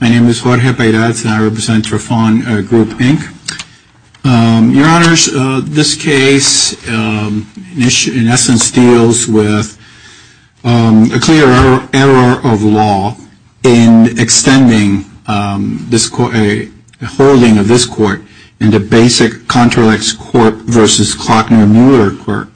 My name is Jorge Paredes and I represent Trafon Group, Inc. Your Honors, this case in essence deals with a clear error of law in extending the holding of this court into basic contralex court versus Klockner-Mueller court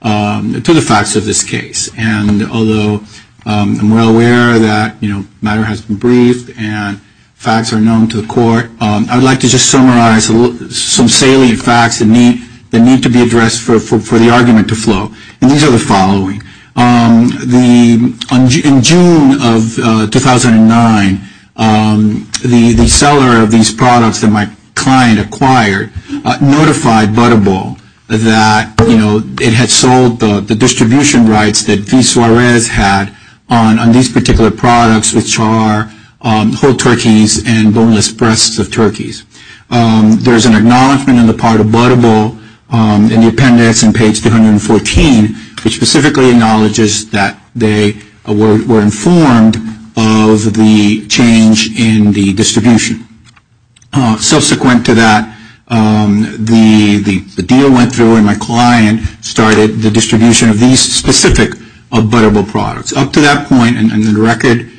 to the facts of this case. And although I'm well aware that matter has been briefed and facts are known to the court, I would like to just summarize some salient facts that need to be addressed for the argument to flow. And these are the following. In June of 2009, the seller of these products that my client acquired notified Butterball that it had sold the distribution rights that V. Suarez had on these particular products, which are whole turkeys and boneless breasts of turkeys. There is an acknowledgment on the part of Butterball in the appendix on page 214, which specifically acknowledges that they were informed of the change in the distribution. Subsequent to that, the deal went through and my client started the distribution of these specific Butterball products. Up to that point in the record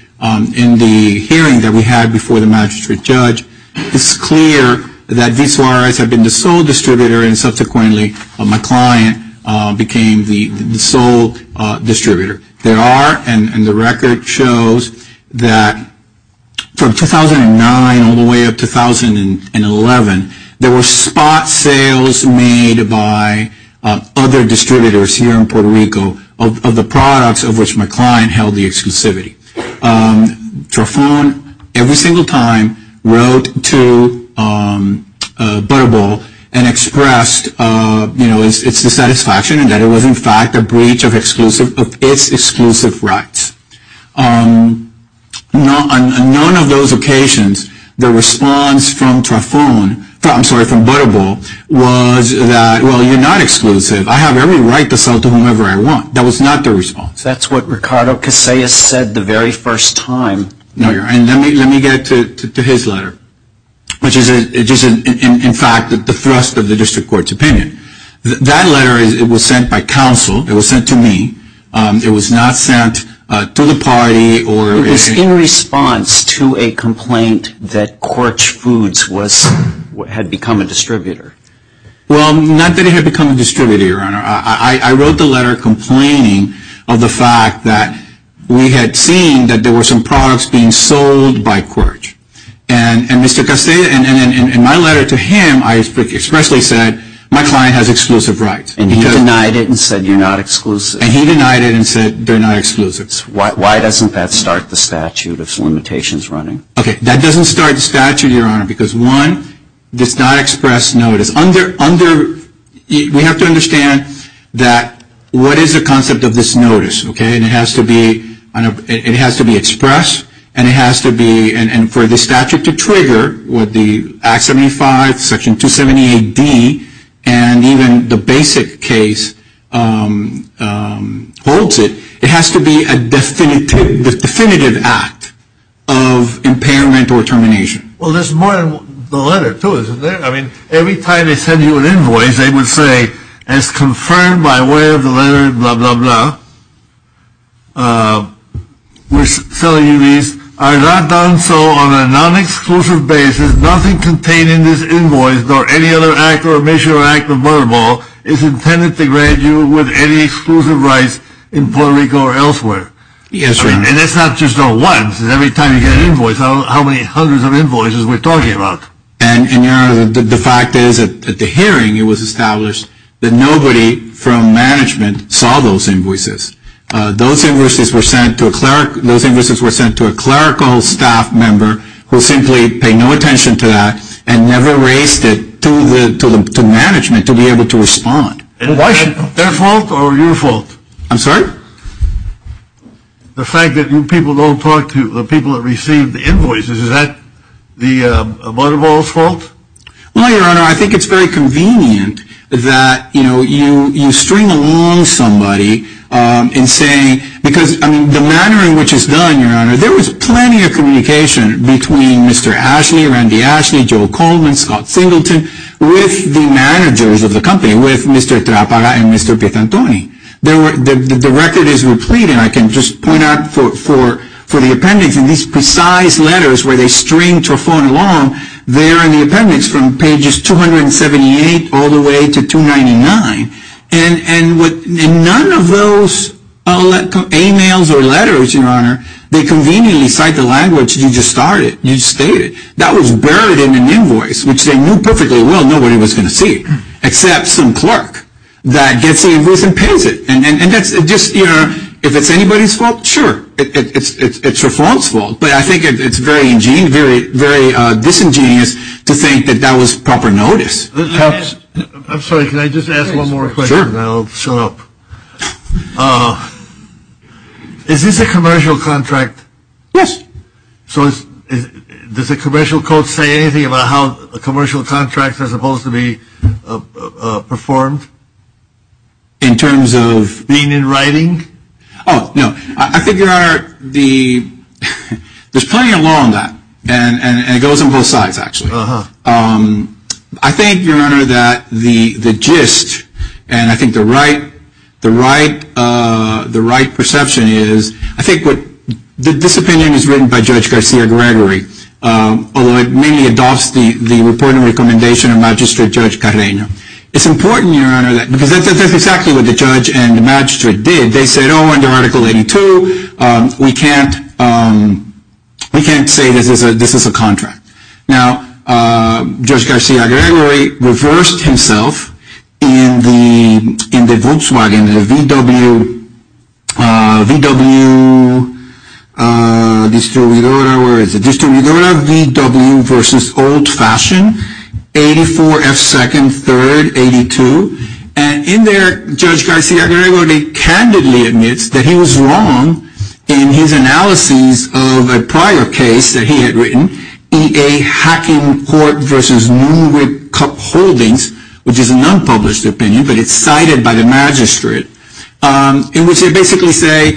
in the hearing that we had before the magistrate judge, it's clear that V. Suarez had been the sole distributor and subsequently my client became the sole distributor. There are, and the record shows that from 2009 all the way up to 2011, there were spot sales made by other distributors here in Puerto Rico of the products of which my client held the exclusivity. Trafón every single time wrote to Butterball and expressed its dissatisfaction in that it was in fact a breach of its exclusive rights. On none of those occasions, the response from Trafón, I'm sorry, from Butterball was that, well, you're not exclusive, I have every right to sell to whomever I want. That was not the response. That's what Ricardo Casillas said the very first time. Let me get to his letter, which is in fact the thrust of the district court's opinion. That letter was sent by counsel. It was sent to me. It was not sent to the party. It was in response to a complaint that Corch Foods had become a distributor. Well, not that it had become a distributor, Your Honor. I wrote the letter complaining of the fact that we had seen that there were some products being sold by Corch. And Mr. Casillas, in my letter to him, I expressly said my client has exclusive rights. And he denied it and said you're not exclusive. And he denied it and said they're not exclusive. Why doesn't that start the statute of limitations running? Okay, that doesn't start the statute, Your Honor, because one, it does not express notice. We have to understand that what is the concept of this notice, okay? And it has to be expressed. And it has to be, and for the statute to trigger with the Act 75, Section 278D, and even the basic case holds it, it has to be a definitive act of impairment or termination. Well, there's more in the letter, too, isn't there? I mean, every time they send you an invoice, they would say, as confirmed by way of the letter, blah, blah, blah, we're selling you these, are not done so on a non-exclusive basis. Nothing contained in this invoice, nor any other act or measure or act of murderable, is intended to grant you with any exclusive rights in Puerto Rico or elsewhere. Yes, Your Honor. And that's not just a once. Every time you get an invoice, how many hundreds of invoices we're talking about. And, Your Honor, the fact is, at the hearing, it was established that nobody from management saw those invoices. Those invoices were sent to a clerical staff member who simply paid no attention to that and never raised it to management to be able to respond. Their fault or your fault? I'm sorry? The fact that people don't talk to the people that receive the invoices, is that the murderable's fault? No, Your Honor. I think it's very convenient that, you know, you string along somebody and say, because, I mean, the manner in which it's done, Your Honor, there was plenty of communication between Mr. Ashley, Randy Ashley, Joel Coleman, Scott Singleton, with the managers of the company, with Mr. Trappara and Mr. Piantoni. The record is replete, and I can just point out for the appendix, in these precise letters where they string Torfon along, there in the appendix from pages 278 all the way to 299, and none of those emails or letters, Your Honor, they conveniently cite the language you just started, you just stated. That was buried in an invoice, which they knew perfectly well nobody was going to see, except some clerk that gets the invoice and pays it. And that's just, you know, if it's anybody's fault, sure. It's your fault's fault. But I think it's very disingenuous to think that that was proper notice. I'm sorry. Can I just ask one more question? Sure. Then I'll shut up. Is this a commercial contract? Yes. So does the commercial code say anything about how commercial contracts are supposed to be performed? In terms of? Being in writing? Oh, no. I think, Your Honor, there's plenty of law on that, and it goes on both sides, actually. Uh-huh. I think, Your Honor, that the gist, and I think the right perception is, I think this opinion is written by Judge Garcia-Gregory, although it mainly adopts the reporting recommendation of Magistrate Judge Carreno. It's important, Your Honor, because that's exactly what the judge and magistrate did. They said, oh, under Article 82, we can't say this is a contract. Now, Judge Garcia-Gregory reversed himself in the Volkswagen, the VW versus old-fashioned, 84F2nd3rd82, and in there, Judge Garcia-Gregory candidly admits that he was wrong in his analyses of a prior case that he had written, EA Hacking Court versus Nuremberg Cup Holdings, which is an unpublished opinion, but it's cited by the magistrate, in which they basically say,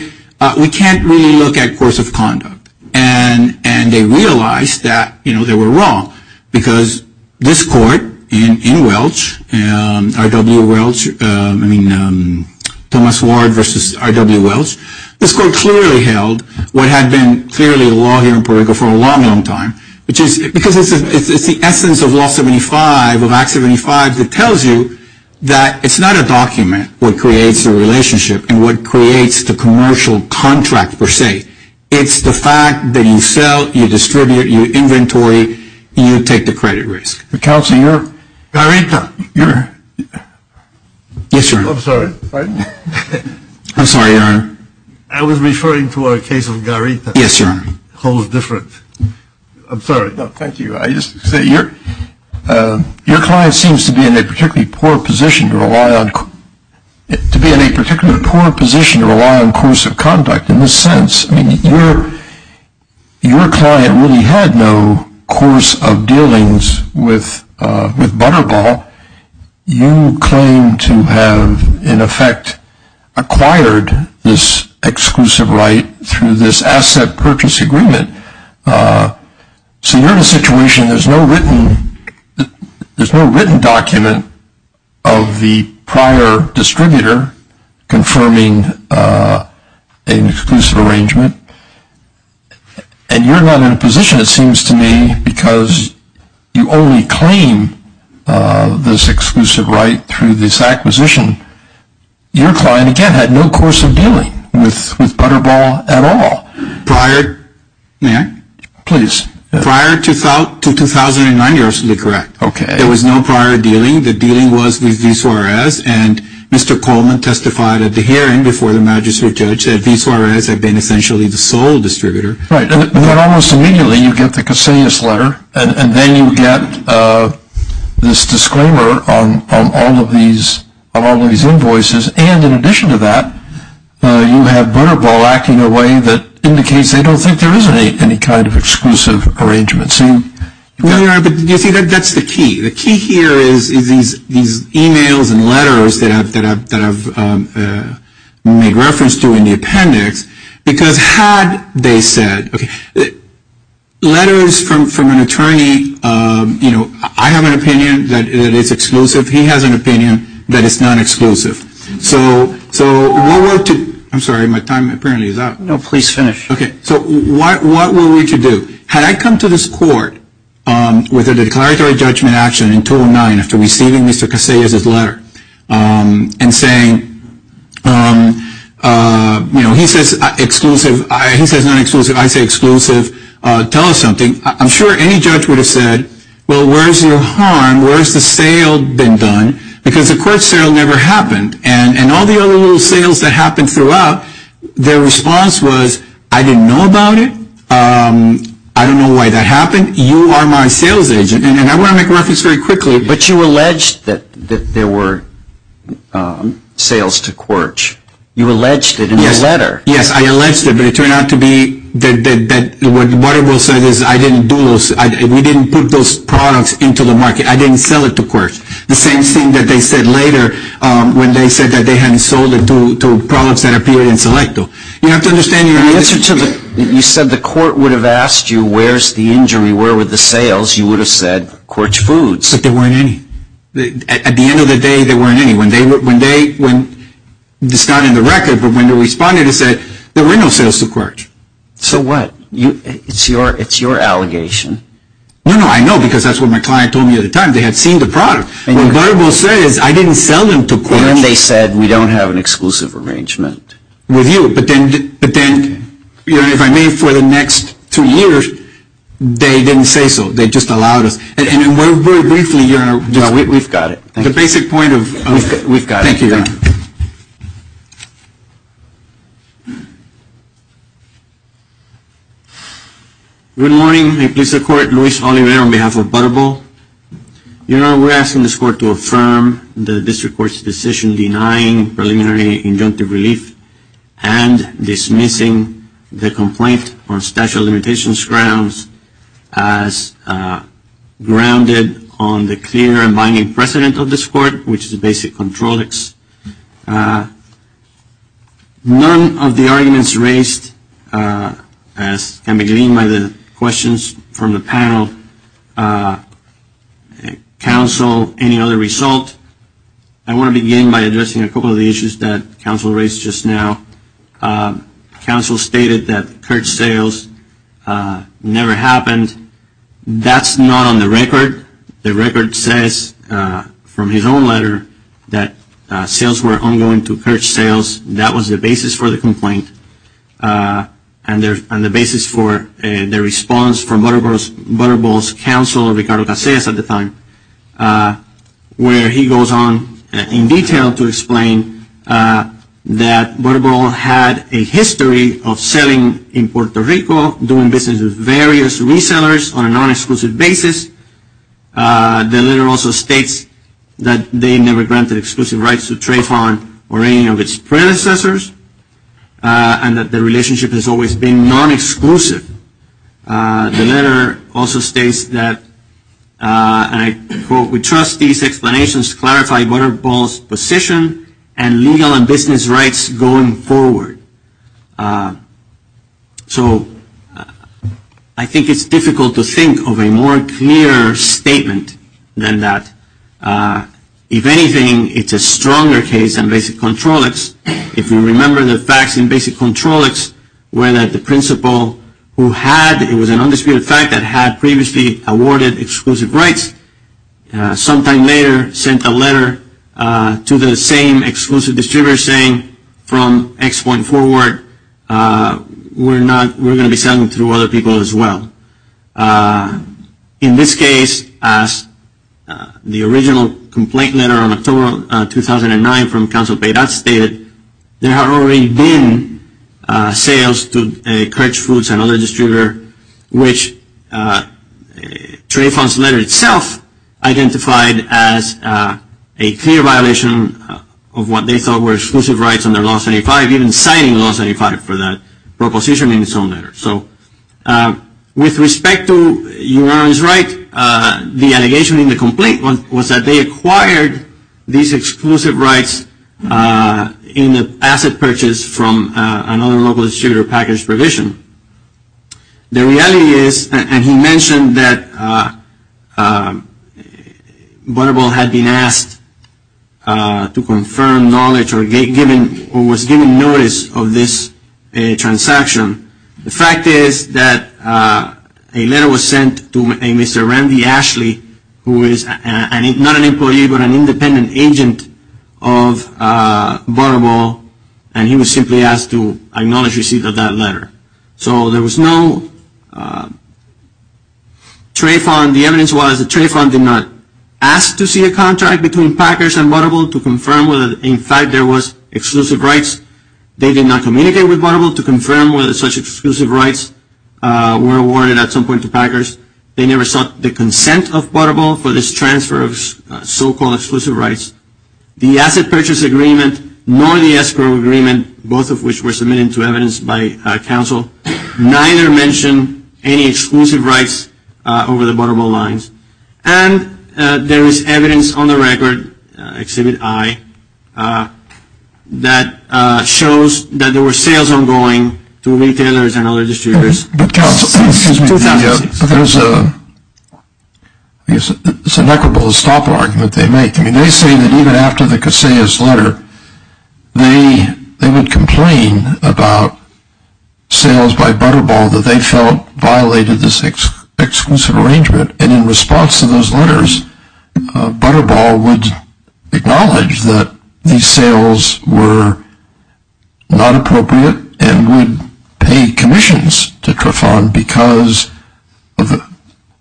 we can't really look at course of conduct. And they realized that, you know, they were wrong, because this court in Welch, R.W. Welch, I mean, Thomas Ward versus R.W. Welch, this court clearly held what had been clearly law here in Puerto Rico for a long, long time, which is because it's the essence of Law 75, of Act 75, that tells you that it's not a document what creates the relationship and what creates the commercial contract, per se. It's the fact that you sell, you distribute, you inventory, you take the credit risk. Counselor, you're… Garita, you're… Yes, Your Honor. I'm sorry. I'm sorry, Your Honor. I was referring to our case of Garita. Yes, Your Honor. Holds different. I'm sorry. No, thank you. Your client seems to be in a particularly poor position to rely on course of conduct in this sense. I mean, your client really had no course of dealings with Butterball. You claim to have, in effect, acquired this exclusive right through this asset purchase agreement. So you're in a situation, there's no written document of the prior distributor confirming an exclusive arrangement, and you're not in a position, it seems to me, because you only claim this exclusive right through this acquisition. Your client, again, had no course of dealing with Butterball at all. Prior… May I? Please. Prior to 2009, you're absolutely correct. Okay. There was no prior dealing. The dealing was with VSORS, and Mr. Coleman testified at the hearing before the magistrate judge that VSORS had been essentially the sole distributor. Right. And then almost immediately, you get the Casillas letter, and then you get this disclaimer on all of these invoices, and in addition to that, you have Butterball acting in a way that indicates they don't think there is any kind of exclusive arrangement. No, Your Honor, but you see, that's the key. The key here is these e-mails and letters that I've made reference to in the appendix, because had they said, okay, letters from an attorney, you know, I have an opinion that it's exclusive. He has an opinion that it's not exclusive. So what were to… I'm sorry. My time apparently is up. No, please finish. Okay. So what were we to do? Had I come to this court with a declaratory judgment action in 2009 after receiving Mr. Casillas' letter and saying, you know, he says exclusive, he says not exclusive, I say exclusive, tell us something. I'm sure any judge would have said, well, where's your harm? Where's the sale been done? Because the Quirch sale never happened. And all the other little sales that happened throughout, their response was, I didn't know about it. I don't know why that happened. You are my sales agent. And I want to make a reference very quickly. But you alleged that there were sales to Quirch. You alleged it in the letter. Yes, I alleged it. But it turned out to be that what Waterville said is I didn't do those. We didn't put those products into the market. I didn't sell it to Quirch. The same thing that they said later when they said that they hadn't sold it to products that appeared in Selecto. You have to understand your answer to the… You said the court would have asked you where's the injury, where were the sales. You would have said Quirch Foods. But there weren't any. At the end of the day, there weren't any. It's not in the record, but when they responded, it said there were no sales to Quirch. So what? It's your allegation. No, no, I know because that's what my client told me at the time. They had seen the product. What Waterville said is I didn't sell them to Quirch. And they said we don't have an exclusive arrangement. With you. But then, if I may, for the next two years, they didn't say so. They just allowed us. And very briefly… We've got it. The basic point of… We've got it. Thank you, Your Honor. Good morning. May it please the Court, Luis Oliveira on behalf of Butterball. Your Honor, we're asking this Court to affirm the District Court's decision denying preliminary injunctive relief and dismissing the complaint on statute of limitations grounds as grounded on the clear and binding precedent of this Court, which is the basic controls. None of the arguments raised, as can be gleaned by the questions from the panel, counsel any other result. I want to begin by addressing a couple of the issues that counsel raised just now. Counsel stated that Quirch sales never happened. That's not on the record. The record says from his own letter that sales were ongoing to Quirch sales. That was the basis for the complaint. And the basis for the response from Butterball's counsel, Ricardo Casillas at the time, where he goes on in detail to explain that Butterball had a history of selling in Puerto Rico, doing business with various resellers on a non-exclusive basis. The letter also states that they never granted exclusive rights to Trayvon or any of its predecessors and that the relationship has always been non-exclusive. The letter also states that, and I quote, we trust these explanations to clarify Butterball's position and legal and business rights going forward. So I think it's difficult to think of a more clear statement than that. If anything, it's a stronger case than basic controlics. If you remember the facts in basic controlics where the principal who had, it was an undisputed fact, that had previously awarded exclusive rights, sometime later sent a letter to the same exclusive distributor saying, from this point forward we're going to be selling through other people as well. In this case, as the original complaint letter on October 2009 from Counsel Payette stated, there had already been sales to Quirch Foods and other distributors, which Trayvon's letter itself identified as a clear violation of what they thought were exclusive rights under Law 75, even citing Law 75 for that proposition in its own letter. So with respect to Uranium's right, the allegation in the complaint was that they acquired these exclusive rights in the asset purchase from another local distributor package provision. The reality is, and he mentioned that Butterball had been asked to confirm knowledge or was given notice of this transaction. The fact is that a letter was sent to a Mr. Randy Ashley, who is not an employee but an independent agent of Butterball, and he was simply asked to acknowledge receipt of that letter. So there was no, Trayvon, the evidence was that Trayvon did not ask to see a contract between Packers and Butterball to confirm whether in fact there was exclusive rights. They did not communicate with Butterball to confirm whether such exclusive rights were awarded at some point to Packers. They never sought the consent of Butterball for this transfer of so-called exclusive rights. The asset purchase agreement nor the escrow agreement, both of which were submitted to evidence by counsel, neither mentioned any exclusive rights over the Butterball lines. And there is evidence on the record, Exhibit I, that shows that there were sales ongoing to retailers and other distributors. But counsel, excuse me, there's a, it's an equitable stop argument they make. I mean, they say that even after the Casillas letter, they would complain about sales by Butterball that they felt violated this exclusive arrangement, and in response to those letters, Butterball would acknowledge that these sales were not appropriate and would pay commissions to Trayvon because,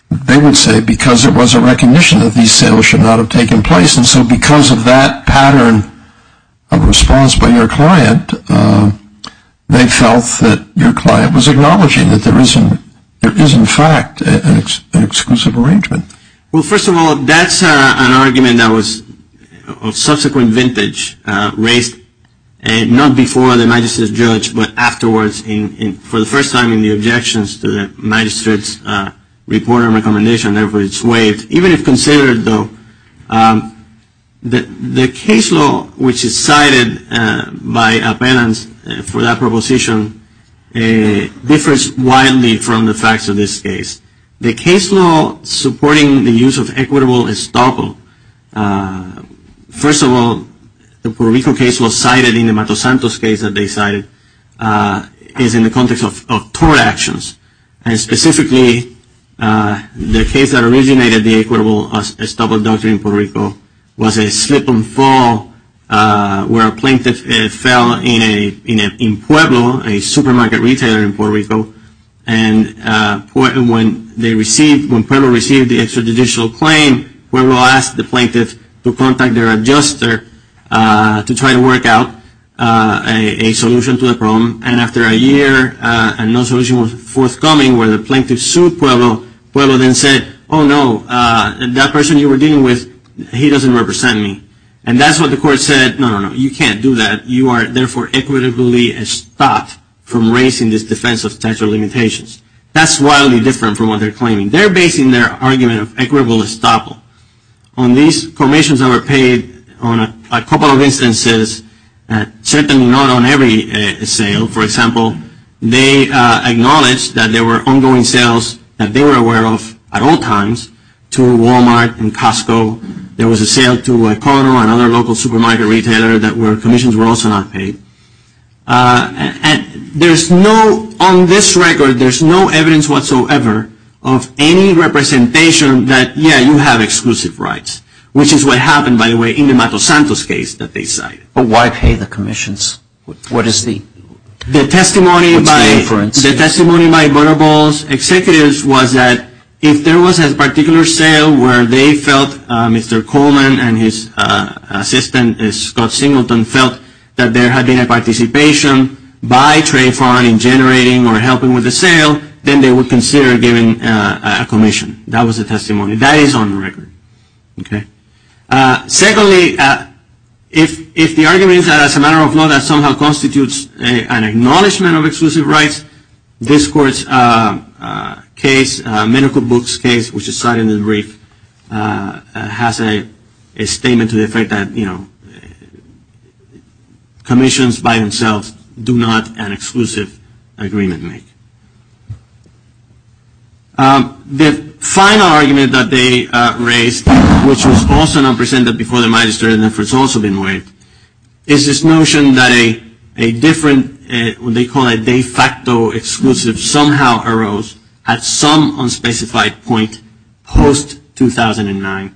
they would say because it was a recognition that these sales should not have taken place. And so because of that pattern of response by your client, they felt that your client was acknowledging that there is in fact an exclusive arrangement. Well, first of all, that's an argument that was of subsequent vintage raised not before the magistrate's judge, but afterwards for the first time in the objections to the magistrate's report and recommendation, and therefore it's waived. Even if considered, though, the case law which is cited by appellants for that proposition differs widely from the facts of this case. The case law supporting the use of equitable estoppel, first of all, the Puerto Rico case law cited in the Matos Santos case that they cited is in the context of tort actions. And specifically, the case that originated the equitable estoppel doctrine in Puerto Rico was a slip and fall where a plaintiff fell in Pueblo, a supermarket retailer in Puerto Rico, and when Pueblo received the extrajudicial claim, Pueblo asked the plaintiff to contact their adjuster to try to work out a solution to the problem. And after a year and no solution was forthcoming where the plaintiff sued Pueblo, Pueblo then said, oh, no, that person you were dealing with, he doesn't represent me. And that's what the court said, no, no, no, you can't do that. You are, therefore, equitably estopped from raising this defense of statute of limitations. That's wildly different from what they're claiming. They're basing their argument of equitable estoppel on these permissions that were paid on a couple of instances, certainly not on every sale. For example, they acknowledged that there were ongoing sales that they were aware of at all times to Walmart and Costco. There was a sale to a corner, another local supermarket retailer that were commissions were also not paid. And there's no, on this record, there's no evidence whatsoever of any representation that, yeah, you have exclusive rights, which is what happened, by the way, in the Matos Santos case that they cited. But why pay the commissions? What is the inference? The testimony by Butterball's executives was that if there was a particular sale where they felt Mr. Coleman and his assistant, Scott Singleton, felt that there had been a participation by Trayvon in generating or helping with the sale, then they would consider giving a commission. That was the testimony. That is on the record. Secondly, if the argument is that as a matter of law that somehow constitutes an acknowledgment of exclusive rights, this court's case, medical books case, which is cited in the brief, has a statement to the effect that commissions by themselves do not an exclusive agreement make. The final argument that they raised, which was also not presented before the magistrate and therefore has also been waived, is this notion that a different, what they call a de facto exclusive, somehow arose at some unspecified point post-2009.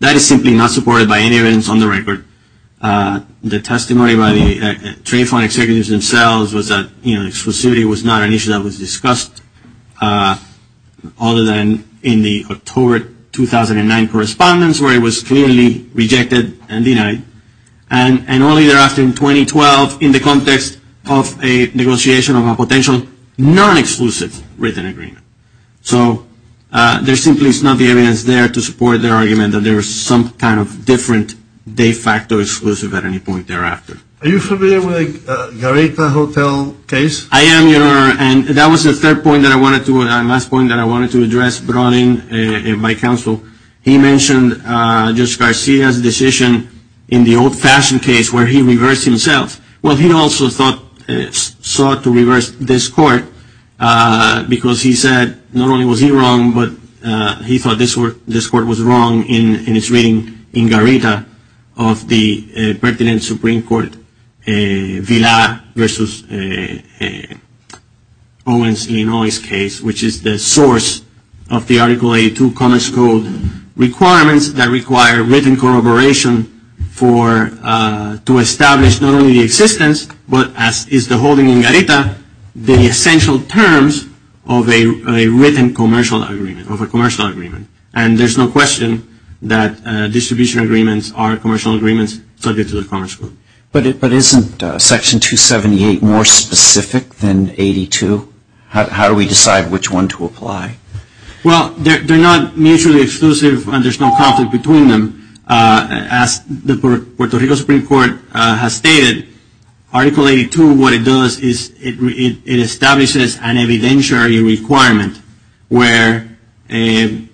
That is simply not supported by any evidence on the record. The testimony by the Trayvon executives themselves was that, you know, exclusivity was not an issue that was discussed other than in the October 2009 correspondence where it was clearly rejected and denied. And only thereafter in 2012 in the context of a negotiation of a potential non-exclusive written agreement. So there simply is not the evidence there to support their argument that there is some kind of different de facto exclusive at any point thereafter. Are you familiar with the Gareta Hotel case? I am, Your Honor. And that was the third point that I wanted to, the last point that I wanted to address brought in by counsel. He mentioned Judge Garcia's decision in the old-fashioned case where he reversed himself. Well, he also sought to reverse this court because he said not only was he wrong, but he thought this court was wrong in its reading in Gareta of the pertinent Supreme Court Villar versus Owens-Illinois case, which is the source of the Article 82 Commerce Code requirements that require written corroboration to establish not only the existence, but as is the holding in Gareta, the essential terms of a written commercial agreement, of a commercial agreement. And there's no question that distribution agreements are commercial agreements subject to the Commerce Code. But isn't Section 278 more specific than 82? How do we decide which one to apply? Well, they're not mutually exclusive and there's no conflict between them. As the Puerto Rico Supreme Court has stated, Article 82, what it does is it establishes an evidentiary requirement where a...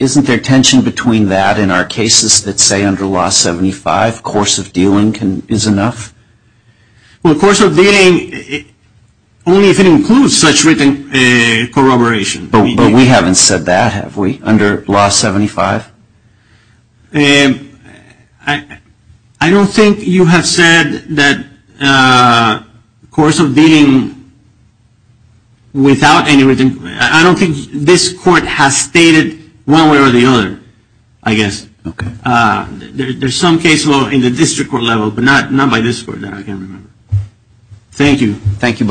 Isn't there tension between that and our cases that say under Law 75 course of dealing is enough? Well, course of dealing, only if it includes such written corroboration. But we haven't said that, have we, under Law 75? I don't think you have said that course of dealing without any written... I don't think this court has stated one way or the other, I guess. Okay. There's some case law in the district court level, but not by this court that I can remember. Thank you. Thank you both.